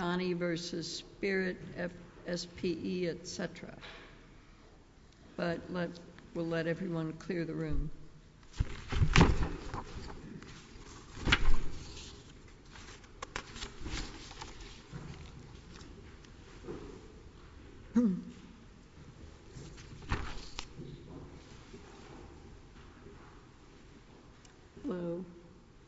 Johnnie v. Spirit SPE, etc. But we'll let everyone clear the room. Hello,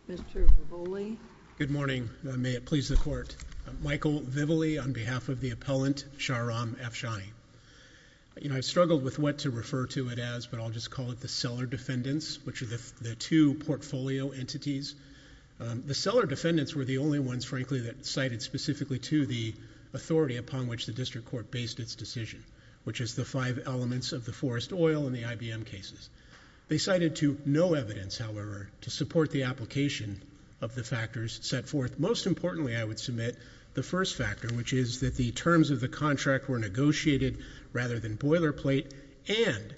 Mr. Voboli. Good morning. May it please the Court. Michael Vivoli on behalf of the appellant, Shahram Afshani. You know, I've struggled with what to refer to it as, but I'll just call it the seller-defendants, which are the two portfolio entities. The seller-defendants were the only ones, frankly, that cited specifically to the authority upon which the District Court based its decision, which is the five elements of the Forrest Oil and the IBM cases. They cited to no evidence, however, to support the application of the factors set forth. Most importantly, I would submit the first factor, which is that the terms of the contract were negotiated rather than boilerplate, and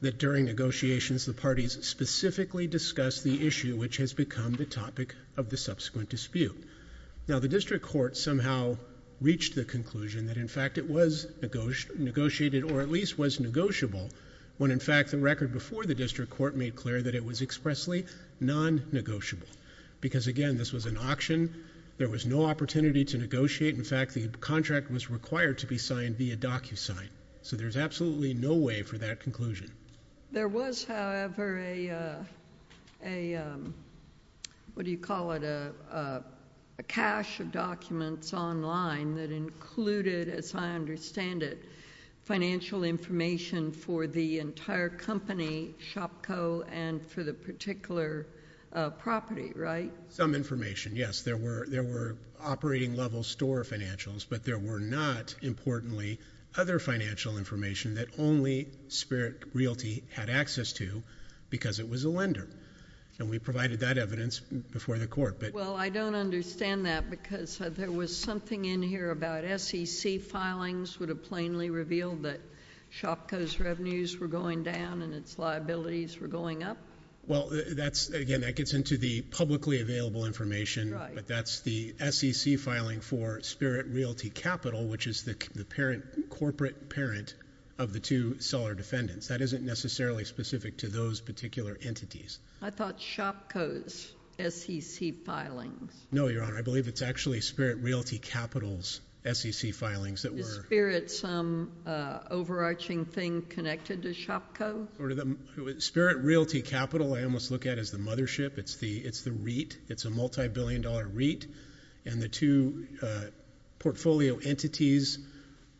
that during negotiations, the parties specifically discussed the issue which has become the topic of the subsequent dispute. Now, the District Court somehow reached the conclusion that, in fact, it was negotiated, or at least was negotiable, when, in fact, the record before the District Court made clear that it was expressly non-negotiable. Because, again, this was an auction. There was no opportunity to negotiate. In fact, the contract was required to be signed via DocuSign. So there's absolutely no way for that conclusion. There was, however, a, what do you call it, a cache of documents online that included, as I understand it, financial information for the entire company, ShopCo, and for the particular property, right? Some information, yes. There were operating-level store financials, but there were not, importantly, other financial information that only Spirit Realty had access to because it was a lender. And we provided that evidence before the Court. Well, I don't understand that because there was something in here about SEC filings would have plainly revealed that ShopCo's revenues were going down and its liabilities were going up. Well, that's, again, that gets into the publicly available information, but that's the SEC filing for Spirit Realty Capital, which is the parent, corporate parent of the two seller defendants. That isn't necessarily specific to those particular entities. I thought ShopCo's SEC filings. No, Your Honor. I believe it's actually Spirit Realty Capital's SEC filings that were— Is Spirit some overarching thing connected to ShopCo? Spirit Realty Capital I almost look at as the mothership. It's the REIT. It's a multi-billion dollar REIT. And the two portfolio entities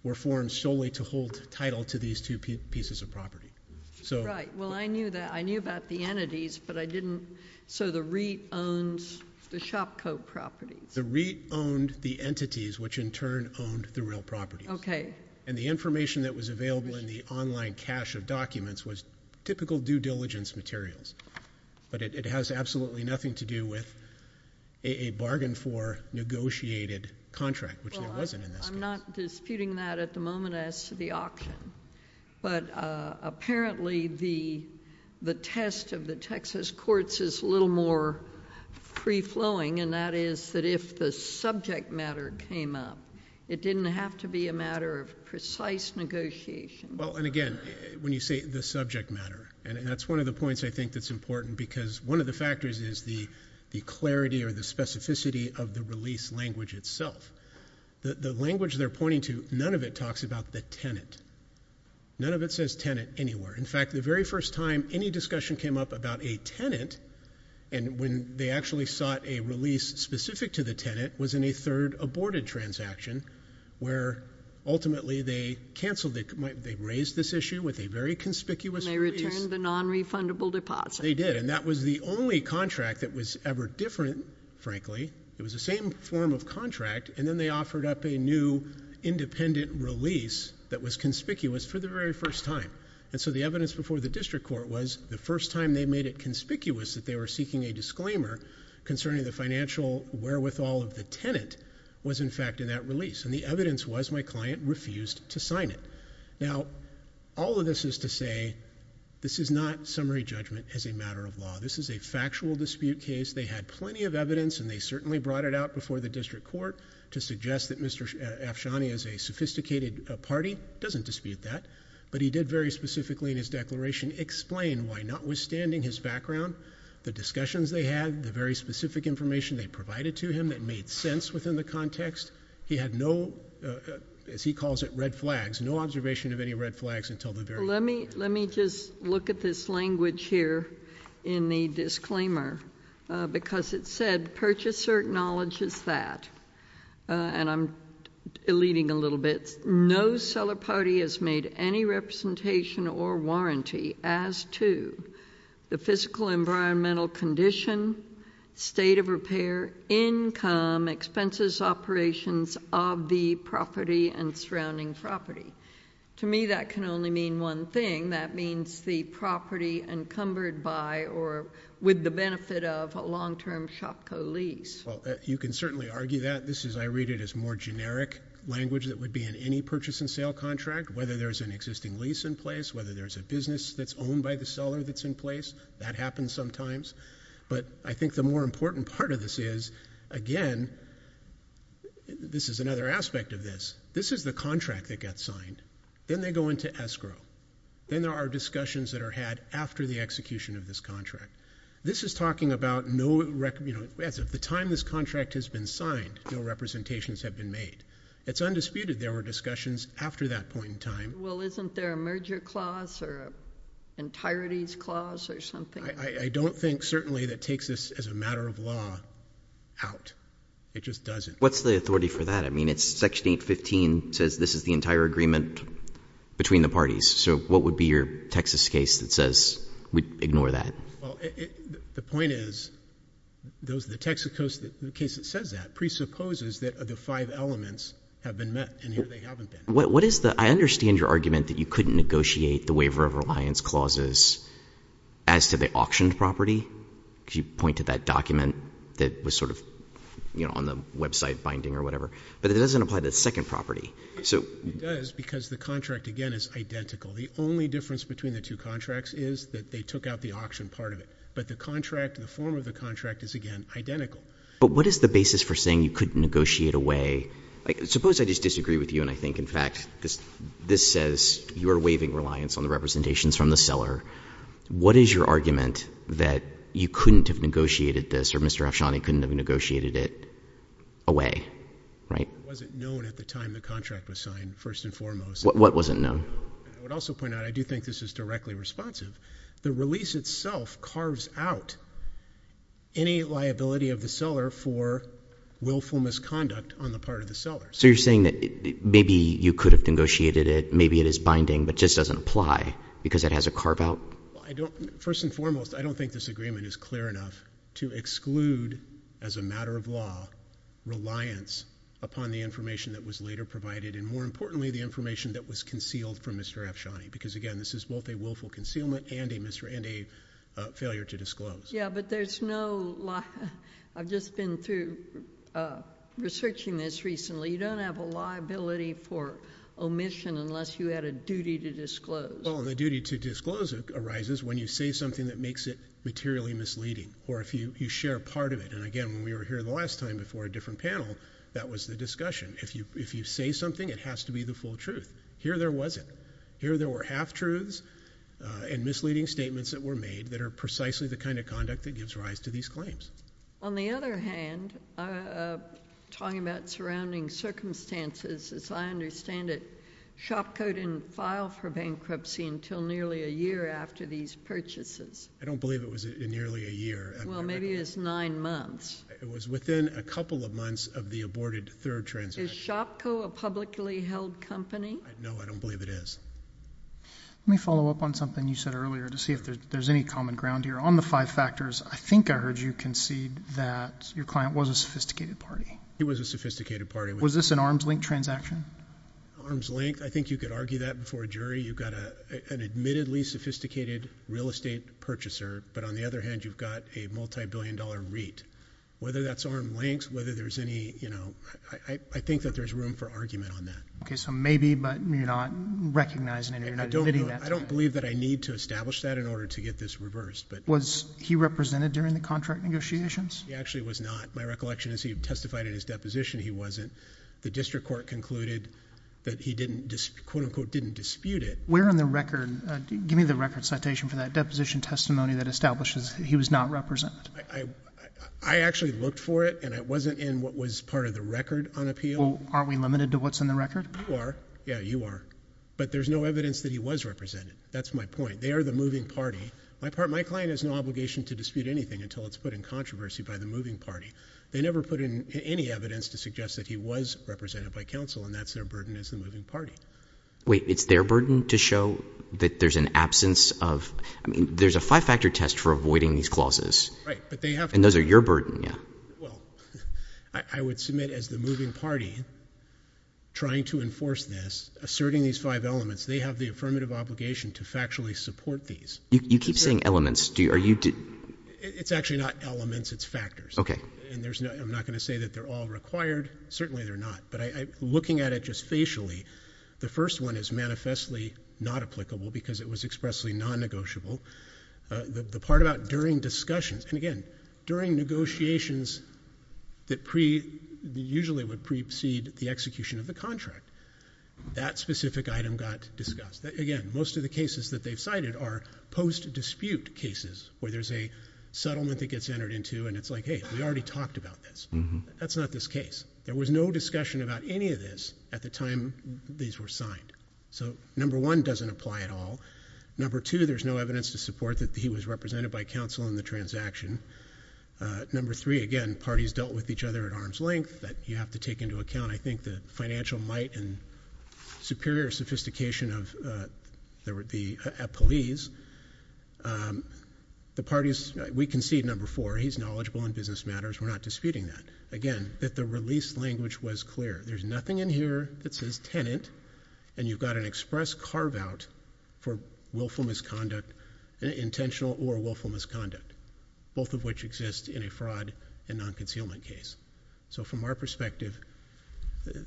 were formed solely to hold title to these two pieces of property. Right. Well, I knew that. I knew about the entities, but I didn't— So the REIT owns the ShopCo properties. The REIT owned the entities, which in turn owned the real properties. Okay. And the information that was available in the online cache of documents was typical due diligence materials, but it has absolutely nothing to do with a bargain for negotiated contract, which there wasn't in this case. Well, I'm not disputing that at the moment as to the auction, but apparently the test of the Texas courts is a little more free-flowing, and that is that if the subject matter came up, it didn't have to be a matter of precise negotiation. Well, and again, when you say the subject matter, and that's one of the points I think that's important because one of the factors is the clarity or the specificity of the release language itself. The language they're pointing to, none of it talks about the tenant. None of it says tenant anywhere. In fact, the very first time any discussion came up about a tenant, and when they actually sought a release specific to the tenant, it was in a third aborted transaction where ultimately they canceled it. They raised this issue with a very conspicuous release. And they returned the non-refundable deposit. They did, and that was the only contract that was ever different, frankly. It was the same form of contract, and then they offered up a new independent release that was conspicuous for the very first time. And so the evidence before the district court was the first time they made it conspicuous that they were seeking a disclaimer concerning the financial wherewithal of the tenant was in fact in that release. And the evidence was my client refused to sign it. Now, all of this is to say this is not summary judgment as a matter of law. This is a factual dispute case. They had plenty of evidence, and they certainly brought it out before the district court to suggest that Mr. Afshani is a sophisticated party. Doesn't dispute that, but he did very specifically in his declaration explain why notwithstanding his background, the discussions they had, the very specific information they provided to him that made sense within the context, he had no, as he calls it, red flags, no observation of any red flags until the very end. Let me just look at this language here in the disclaimer, because it said, Purchaser acknowledges that, and I'm eluding a little bit, no seller party has made any representation or warranty as to the physical environmental condition, state of repair, income, expenses, operations of the property and surrounding property. To me, that can only mean one thing. That means the property encumbered by or with the benefit of a long-term SHOPCO lease. You can certainly argue that. I read it as more generic language that would be in any purchase and sale contract, whether there's an existing lease in place, whether there's a business that's owned by the seller that's in place, that happens sometimes, but I think the more important part of this is, again, this is another aspect of this, this is the contract that gets signed. Then they go into escrow. Then there are discussions that are had after the execution of this contract. This is talking about no, at the time this contract has been signed, no representations have been made. It's undisputed there were discussions after that point in time. Well, isn't there a merger clause or an entireties clause or something? I don't think, certainly, that takes this as a matter of law out. It just doesn't. What's the authority for that? I mean, it's Section 815 says this is the entire agreement between the parties, so what would be your Texas case that says we'd ignore that? The point is, the Texas case that says that presupposes that the five elements have been met, and here they haven't been. I understand your argument that you couldn't negotiate the waiver of reliance clauses as to the auctioned property because you pointed that document that was sort of on the website binding or whatever, but it doesn't apply to the second property. It does because the contract, again, is identical. The only difference between the two contracts is that they took out the auctioned part of it, but the contract, the form of the contract is, again, identical. But what is the basis for saying you couldn't negotiate away Suppose I just disagree with you and I think, in fact, this says you're waiving reliance on the representations from the seller. What is your argument that you couldn't have negotiated this or Mr. Afshani couldn't have negotiated it away, right? It wasn't known at the time the contract was signed, first and foremost. What wasn't known? I would also point out I do think this is directly responsive. The release itself carves out any liability of the seller for willful misconduct on the part of the seller. So you're saying that maybe you could have negotiated it. Maybe it is binding, but just doesn't apply because it has a carve out? First and foremost, I don't think this agreement is clear enough to exclude, as a matter of law, reliance upon the information that was later provided and, more importantly, the information that was concealed from Mr. Afshani because, again, this is both a willful concealment and a failure to disclose. Yeah, but there's no liability. I've just been through researching this recently. You don't have a liability for omission unless you had a duty to disclose. Well, the duty to disclose arises when you say something that makes it materially misleading or if you share part of it. And, again, when we were here the last time before a different panel, that was the discussion. If you say something, it has to be the full truth. Here there wasn't. Here there were half-truths and misleading statements that were made that are precisely the kind of conduct that gives rise to these claims. On the other hand, talking about surrounding circumstances, as I understand it, SHOPCO didn't file for bankruptcy until nearly a year after these purchases. I don't believe it was nearly a year. Well, maybe it was nine months. It was within a couple of months of the aborted third transaction. Is SHOPCO a publicly held company? No, I don't believe it is. Let me follow up on something you said earlier to see if there's any common ground here. On the five factors, I think I heard you concede that your client was a sophisticated party. He was a sophisticated party. Was this an arm's length transaction? Arm's length? I think you could argue that before a jury. You've got an admittedly sophisticated real estate purchaser, but on the other hand, you've got a multi-billion dollar REIT. Whether that's arm's length, whether there's any, you know, I think that there's room for argument on that. Okay, so maybe, but you're not recognizing it. I don't believe that I need to establish that in order to get this reversed. Was he represented during the contract negotiations? He actually was not. My recollection is he testified in his deposition. He wasn't. The district court concluded that he didn't, quote unquote, didn't dispute it. Where on the record, give me the record citation for that deposition testimony that establishes he was not represented. I actually looked for it, and it wasn't in what was part of the record on appeal. Well, aren't we limited to what's in the record? You are. Yeah, you are. But there's no evidence that he was represented. That's my point. They are the moving party. My client has no obligation to dispute anything until it's put in controversy by the moving party. They never put in any evidence to suggest that he was represented by counsel, and that's their burden as the moving party. Wait, it's their burden to show that there's an absence of, I mean, there's a five-factor test for avoiding these clauses. Right, but they have to. And those are your burden. Yeah. Well, I would submit as the moving party trying to enforce this, asserting these five elements, they have the affirmative obligation to factually support these. You keep saying elements. It's actually not elements, it's factors. Okay. And I'm not going to say that they're all required. Certainly they're not. But looking at it just facially, the first one is manifestly not applicable because it was expressly non-negotiable. The part about during discussions, and again, during negotiations that usually would precede the execution of the contract, that specific item got discussed. Again, most of the cases that they've cited are post-dispute cases where there's a settlement that gets entered into, and it's like, hey, we already talked about this. That's not this case. There was no discussion about any of this at the time these were signed. So number one doesn't apply at all. Number two, there's no evidence to support that he was represented by counsel in the transaction. Number three, again, parties dealt with each other at arm's length. You have to take into account, I think, the financial might and superior sophistication of the employees. The parties, we concede, number four, he's knowledgeable in business matters. We're not disputing that. Again, that the release language was clear. There's nothing in here that says tenant, and you've got an express carve-out for willful misconduct, intentional or willful misconduct, both of which exist in a fraud and non-concealment case. So from our perspective,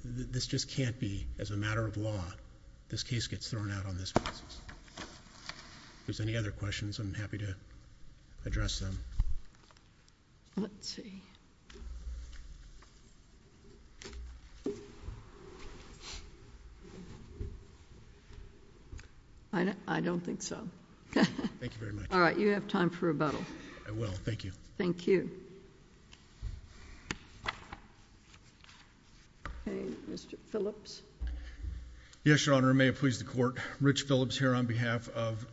this just can't be, as a matter of law, this case gets thrown out on this basis. If there's any other questions, I'm happy to address them. Let's see. I don't think so. Thank you very much. All right. You have time for rebuttal. I will. Thank you. Thank you. Okay. Mr. Phillips. Yes, Your Honor. May it please the Court, Rich Phillips here on behalf of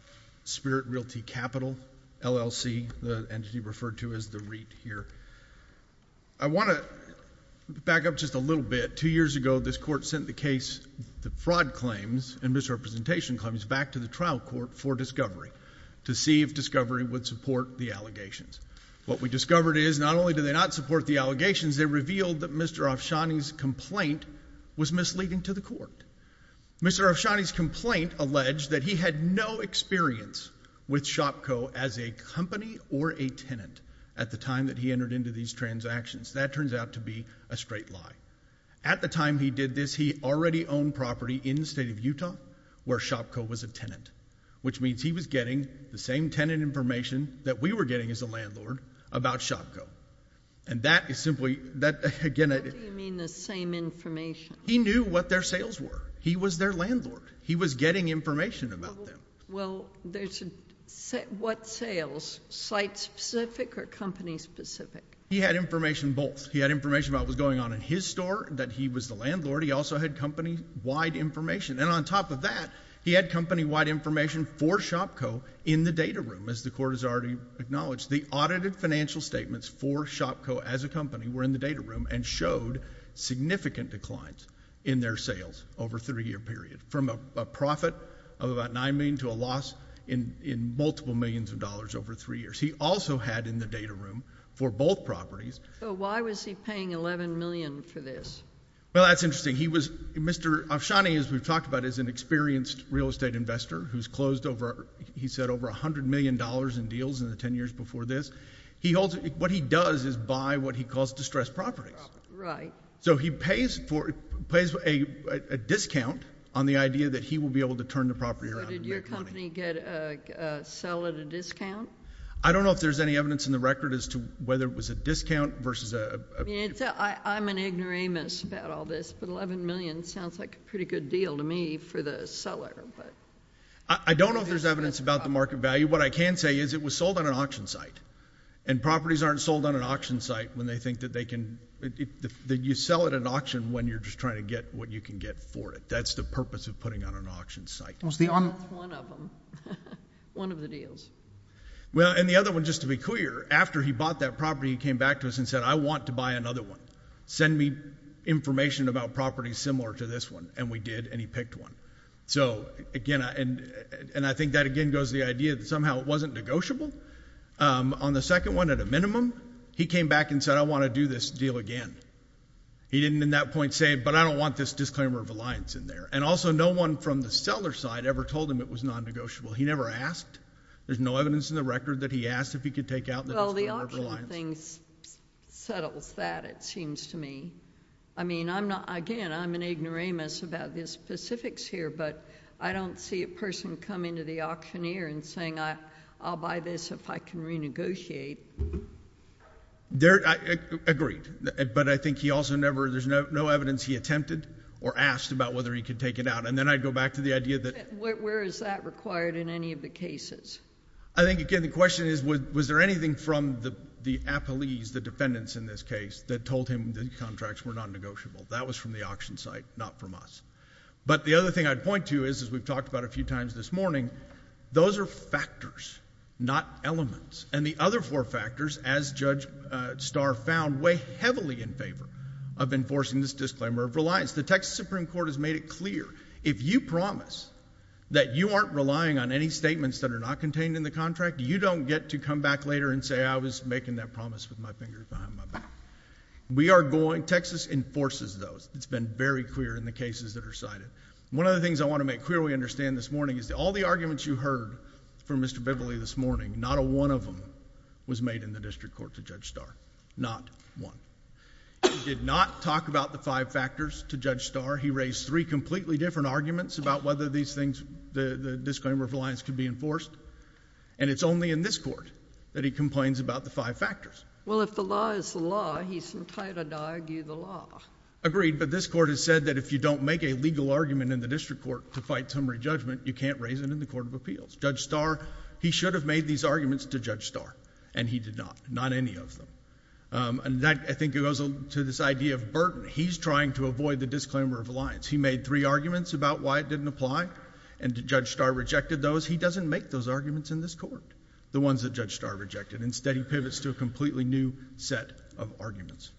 Spirit Realty Capital, LLC, the entity referred to as the REIT here. I want to back up just a little bit. Two years ago, this Court sent the case, the fraud claims and misrepresentation claims, back to the trial court for discovery to see if discovery would support the allegations. What we discovered is not only do they not support the allegations, they revealed that Mr. Afshani's complaint was misleading to the Court. Mr. Afshani's complaint alleged that he had no experience with ShopCo as a company or a tenant at the time that he entered into these transactions. That turns out to be a straight lie. At the time he did this, he already owned property in the state of Utah where ShopCo was a tenant, which means he was getting the same tenant information that we were getting as a landlord about ShopCo. And that is simply... What do you mean the same information? He knew what their sales were. He was their landlord. He was getting information about them. Well, there's a... What sales? Site-specific or company-specific? He had information both. He had information about what was going on in his store, that he was the landlord. He also had company-wide information. And on top of that, he had company-wide information for ShopCo in the data room, as the Court has already acknowledged. The audited financial statements for ShopCo as a company were in the data room and showed significant declines in their sales over a three-year period, from a profit of about $9 million to a loss in multiple millions of dollars over three years. He also had in the data room for both properties... So why was he paying $11 million for this? Well, that's interesting. He was... Mr. Avshani, as we've talked about, is an experienced real estate investor who's closed over, he said, over $100 million in deals in the 10 years before this. What he does is buy what he calls distressed properties. Right. So he pays for... pays a discount on the idea that he will be able to turn the property around and make money. So did your company get a... sell at a discount? I don't know if there's any evidence in the record as to whether it was a discount versus a... I mean, I'm an ignoramus about all this, but $11 million sounds like a pretty good deal to me for the seller, but... I don't know if there's evidence about the market value. What I can say is it was sold on an auction site. And properties aren't sold on an auction site when they think that they can... you sell at an auction when you're just trying to get what you can get for it. That's the purpose of putting on an auction site. That's one of them. One of the deals. Well, and the other one, just to be clear, after he bought that property, he came back to us and said, I want to buy another one. Send me information about property similar to this one. And we did, and he picked one. So, again, and I think that again goes to the idea that somehow it wasn't negotiable. On the second one, at a minimum, he came back and said, I want to do this deal again. He didn't in that point say, but I don't want this disclaimer of reliance in there. And also, no one from the seller's side ever told him it was non-negotiable. He never asked. There's no evidence in the record that he asked if he could take out the disclaimer of reliance. Well, the auction thing settles that, it seems to me. I mean, I'm not... again, I'm an ignoramus about the specifics here, but I don't see a person coming to the auctioneer and saying, I'll buy this if I can negotiate. Agreed. But I think he also never... there's no evidence he attempted or asked about whether he could take it out. And then I'd go back to the idea that... Where is that required in any of the cases? I think, again, the question is, was there anything from the appellees, the defendants in this case, that told him the contracts were non-negotiable? That was from the auction site, not from us. But the other thing I'd point to is, as we've talked about a few times this morning, those are factors, not elements. And the other four factors, as Judge Starr found, weigh heavily in favor of enforcing this disclaimer of reliance. The Texas Supreme Court has made it clear, if you promise that you aren't relying on any statements that are not contained in the contract, you don't get to come back later and say, I was making that promise with my fingers behind my back. We are going... Texas enforces those. It's been very clear in the cases that are cited. One of the things I want to make clearly understand this morning is that all the arguments you heard from Mr. Beverly this morning, not a one of them was made in the District Court to Judge Starr. Not one. He did not talk about the five factors to Judge Starr. He raised three completely different arguments about whether these things, the disclaimer of reliance, could be enforced. And it's only in this Court that he complains about the five factors. Well, if the law is the law, he's entitled to argue the law. Agreed. But this Court has said that if you don't make a legal argument in the District Court to fight summary judgment, you can't raise it in the Court of Appeals. Judge Starr, he should have made these arguments to Judge Starr, and he did not. Not any of them. And that, I think, goes to this idea of burden. He's trying to avoid the disclaimer of reliance. He made three arguments about why it didn't apply, and Judge Starr rejected those. He doesn't make those arguments in this Court, the ones that Judge Starr rejected. Instead, he pivots to a completely new set of arguments.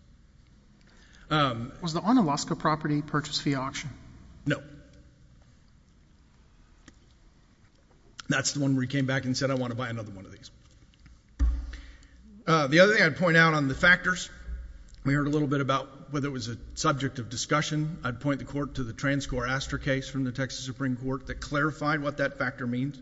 Was the Onalaska property purchased via auction? No. That's the one where he came back and said, I want to buy another one of these. The other thing I'd point out on the factors, we heard a little bit about whether it was a subject of discussion. I'd point the Court to the Transcor Astor case from the Texas Supreme Court that clarified what that factor means.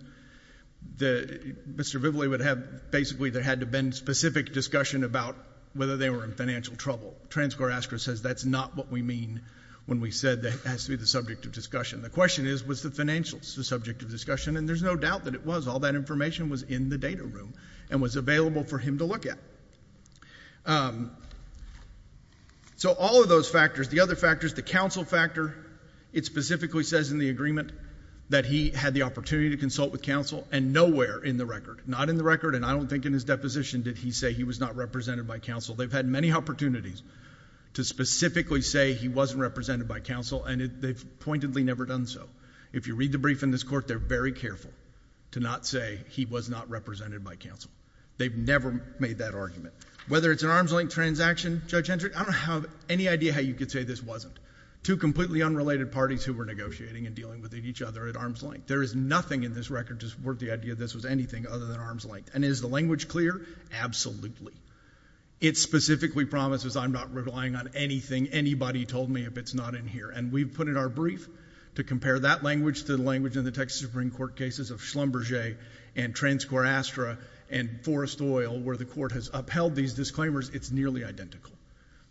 Mr. Vivoli would have basically, there had to have been specific discussion about whether they were in financial trouble. Transcor Astor says that's not what we mean when we said that it has to be the subject of discussion. The question is, was the financials the subject of discussion? And there's no doubt that it was. All that information was in the data room and was available for him to look at. So all of those factors. The other factors, the counsel factor, it specifically says in the agreement that he had the opportunity to consult with counsel, and nowhere in the record, not in the record, and I don't think in his deposition did he say he was not represented by counsel. They've had many opportunities to specifically say he wasn't represented by counsel and they've pointedly never done so. If you read the brief in this Court, they're very careful to not say he was not represented by counsel. They've never made that argument. Whether it's an arm's length transaction, Judge Hendrick, I don't have any idea how you could say this wasn't. Two completely unrelated parties who were negotiating and dealing with each other at arm's length. There is nothing in this record to support the idea that this was anything other than arm's length. And is the language clear? Absolutely. It specifically promises I'm not relying on anything anybody told me if it's not in here. And we've put in our brief to compare that language to the language in the Texas Supreme Court cases of Schlumberger and Transcorastra and Forrest Oil where the Court has upheld these disclaimers, it's nearly identical.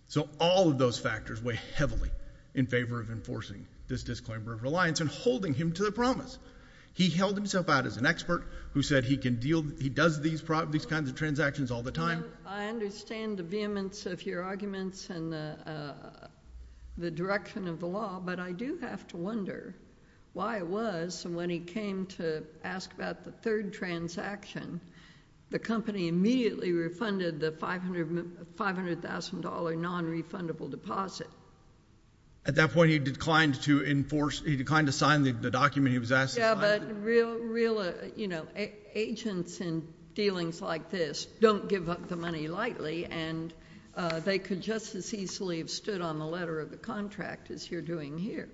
So all of those factors weigh heavily in favor of enforcing this disclaimer of reliance and holding him to the promise. He held himself out as an expert who said he can deal, he does these kinds of transactions all the time. I understand the vehemence of your arguments and the direction of the law, but I do have to wonder why it was when he came to ask about the third transaction, the company immediately refunded the $500,000 non-refundable deposit. At that point he declined to sign the document he was asked to sign? But agents in dealings like this don't give up the money lightly, and they could just as easily have stood on the letter of the contract as you're doing here.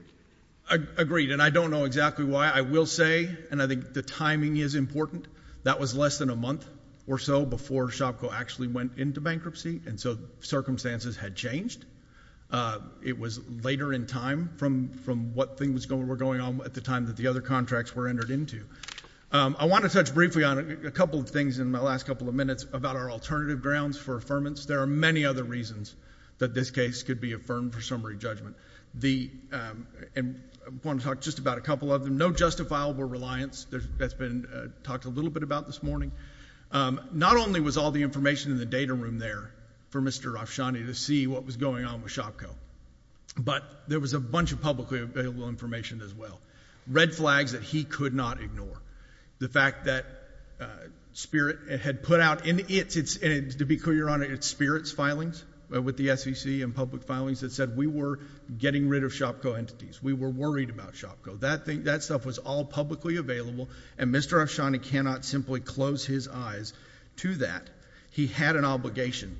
Agreed. And I don't know exactly why. I will say, and I think the timing is important, that was less than a month or so before Shopko actually went into bankruptcy, and so circumstances had changed. It was later in time from what things were going on at the time that the other contracts were entered into. I want to touch briefly on a couple of things in my last couple of minutes about our alternative grounds for affirmance. There are many other reasons that this case could be affirmed for summary judgment. I want to talk just about a couple of them. No justifiable reliance, that's been talked a little bit about this morning. Not only was all the information in the data room there for Mr. Rafshani to see what was going on with Shopko, but there was a bunch of publicly available information as well. Red flags that he could not ignore. The fact that Spirit had put out, and to be clear, Your Honor, it's Spirit's filings with the SEC and public filings that said we were getting rid of Shopko entities. We were worried about Shopko. That stuff was all publicly available, and Mr. Rafshani cannot simply close his eyes to that. He had an obligation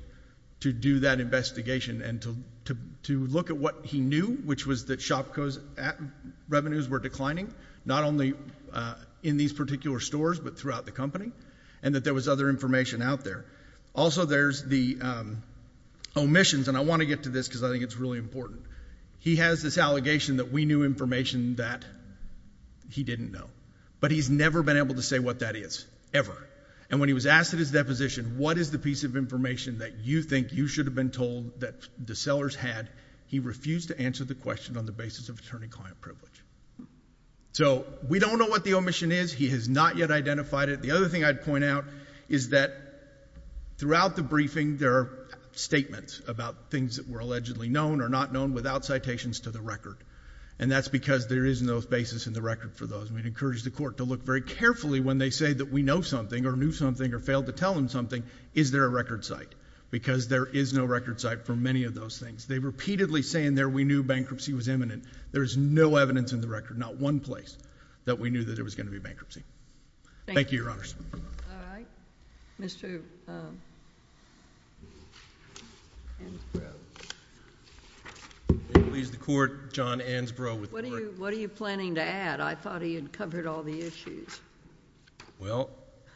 to do that investigation and to look at what he knew, which was that Shopko's revenues were declining, not only in these particular stores but throughout the company, and that there was other information out there. Also there's the omissions, and I want to get to this because I think it's really important. He has this allegation that we knew information that he didn't know, but he's never been able to say what that is, ever. And when he was asked at his deposition, what is the piece of information that you think you should have been told that the sellers had, he refused to answer the question on the basis of attorney-client privilege. So we don't know what the omission is. He has not yet identified it. The other thing I'd point out is that throughout the briefing there are statements about things that were allegedly known or not known without citations to the record, and that's because there is no basis in the record for those. We'd encourage the Court to look very carefully when they say that we know something or knew something or failed to tell them something, is there a record site? Because there is no record site for many of those things. They repeatedly say in there we knew bankruptcy was imminent. There is no evidence in the record, not one place, that we knew that there was going to be bankruptcy. Thank you, Your Honors. Mr. Ansbrough. It leaves the Court, John Ansbrough. What are you planning to add? I thought he had covered all the issues. Well,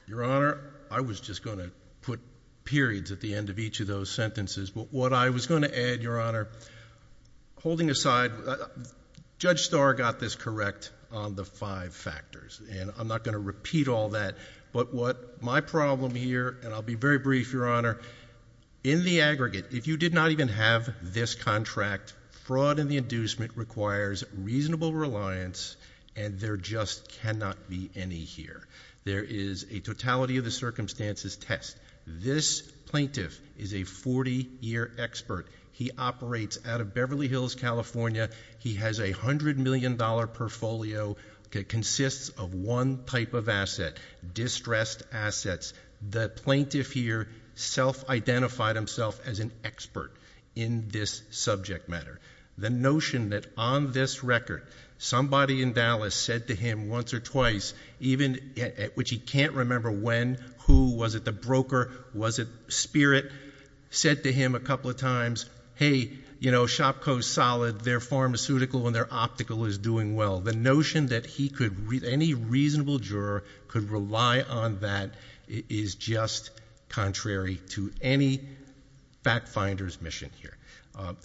Your Honor, I was just going to put periods at the end of each of those sentences, but what I was going to add, Your Honor, holding aside, Judge Starr got this correct on the five factors, and I'm not going to repeat all that, but what my problem here, and I'll be very brief, Your Honor, in the aggregate, if you did not even have this contract, fraud in the inducement requires reasonable reliance and there just cannot be any here. There is a totality of the circumstances test. This plaintiff is a 40-year expert. He operates out of Beverly Hills, California. He has a $100 million portfolio that consists of one type of asset, distressed assets. The plaintiff here self-identified himself as an expert in this subject matter. The notion that on this record, somebody in Dallas said to him once or twice, which he can't remember when, who, was it the broker, was it Spirit, said to him a couple of times, hey, Shopko's solid. Their pharmaceutical and their optical is doing well. The notion that any reasonable juror could rely on that is just contrary to any fact finder's mission here.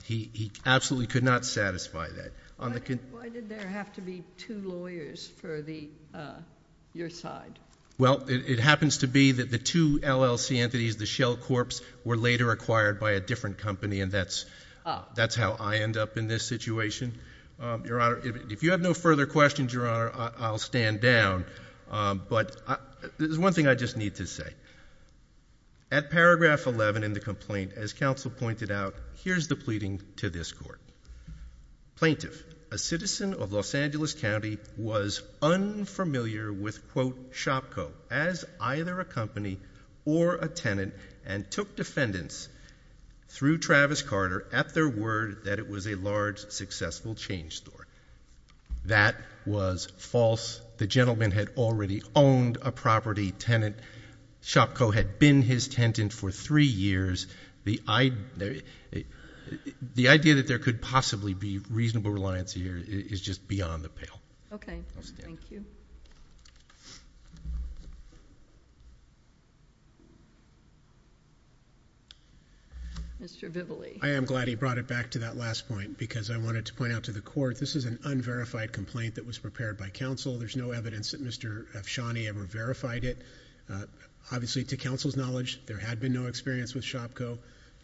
He absolutely could not satisfy that. Why did there have to be two lawyers for your side? Well, it happens to be that the two LLC entities, the Shell Corps, were later acquired by a different company, and that's how I end up in this situation. Your Honor, if you have no further questions, Your Honor, I'll stand down. But there's one thing I just need to say. At paragraph 11 in the complaint, as counsel pointed out, here's the pleading to this Court. Plaintiff, a citizen of Los Angeles County, was unfamiliar with Shopko as either a company or a tenant and took defendants through Travis Carter at their word that it was a large, successful change store. That was false. The gentleman had already owned a property tenant. Shopko had been his tenant for three years. The idea that there could possibly be reasonable reliance here is just beyond the pale. Okay. Thank you. Mr. Bivoli. I am glad he brought it back to that last point because I wanted to point out to the Court, this is an unverified complaint that was prepared by counsel. There's no evidence that Mr. Afshani ever verified it. Obviously, to counsel's knowledge, there had been no experience with Shopko.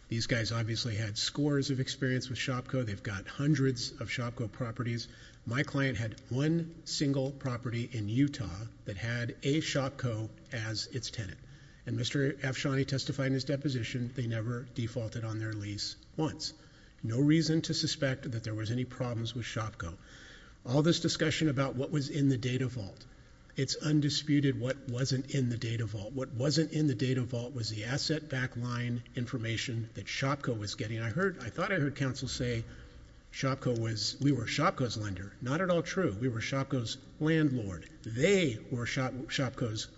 These guys obviously had scores of experience with Shopko. They've got hundreds of Shopko properties. My client had one single property in Utah that had a Shopko as its tenant. And Mr. Afshani testified in his deposition they never defaulted on their lease once. No reason to suspect that there was any problems with Shopko. All this discussion about what was in the data vault, it's undisputed what wasn't in the data vault. What wasn't in the data vault was the asset backline information that Shopko was getting. I thought I heard counsel say we were Shopko's lender. Not at all true. We were Shopko's landlord. They were Shopko's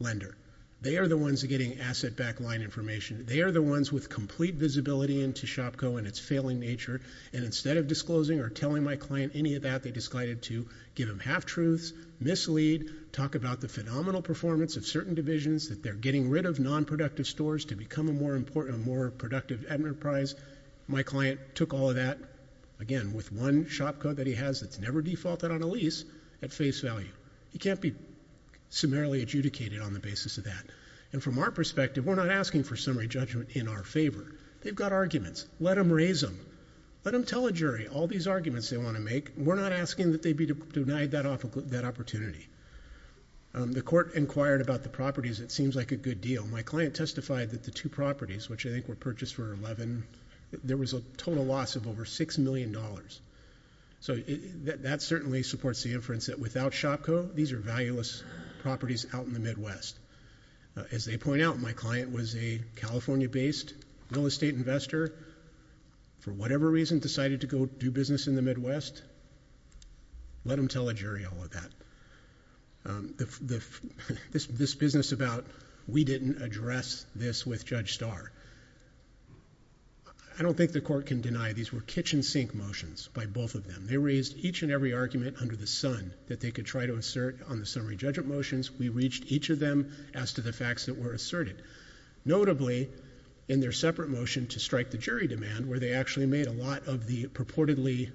lender. They are the ones getting asset backline information. They are the ones with complete visibility into Shopko and its failing nature. And instead of disclosing or telling my client any of that, they decided to give him half-truths, mislead, talk about the phenomenal performance of certain divisions, that they're getting rid of nonproductive stores to become a more productive enterprise. My client took all of that, again, with one Shopko that he has that's never defaulted on a lease at face value. He can't be summarily adjudicated on the basis of that. And from our perspective, we're not asking for summary judgment in our favor. They've got arguments. Let them raise them. Let them tell a jury all these arguments they want to make. We're not asking that they be denied that opportunity. The court inquired about the properties. It seems like a good deal. My client testified that the two properties, which I think were purchased for $11,000, there was a total loss of over $6 million. So that certainly supports the inference that without Shopko, these are valueless properties out in the Midwest. As they point out, my client was a California-based real estate investor. For whatever reason, decided to go do business in the Midwest. Let them tell a jury all of that. This business about we didn't address this with Judge Starr. I don't think the court can deny these were kitchen sink motions by both of them. They raised each and every argument under the sun that they could try to assert on the summary judgment motions. We reached each of them as to the facts that were asserted. Notably, in their separate motion to strike the jury demand, where they actually made a lot of the purportedly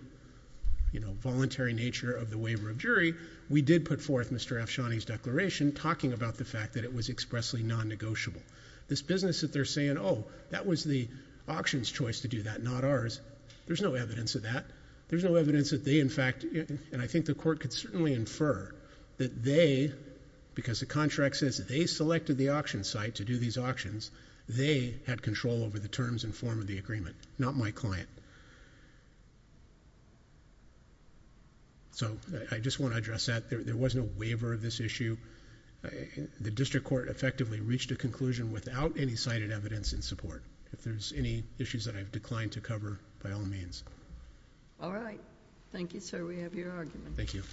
voluntary nature of the waiver of jury, we did put forth Mr. Afshani's declaration talking about the fact that it was expressly non-negotiable. This business that they're saying, oh, that was the auction's choice to do that, not ours, there's no evidence of that. There's no evidence that they, in fact, and I think the court could certainly infer that they, because the contract says that they selected the auction site to do these auctions, they had control over the terms and form of the agreement, not my client. I just want to address that. There was no waiver of this issue. The district court effectively reached a conclusion without any cited evidence in support. If there's any issues that I've declined to cover, by all means. Thank you.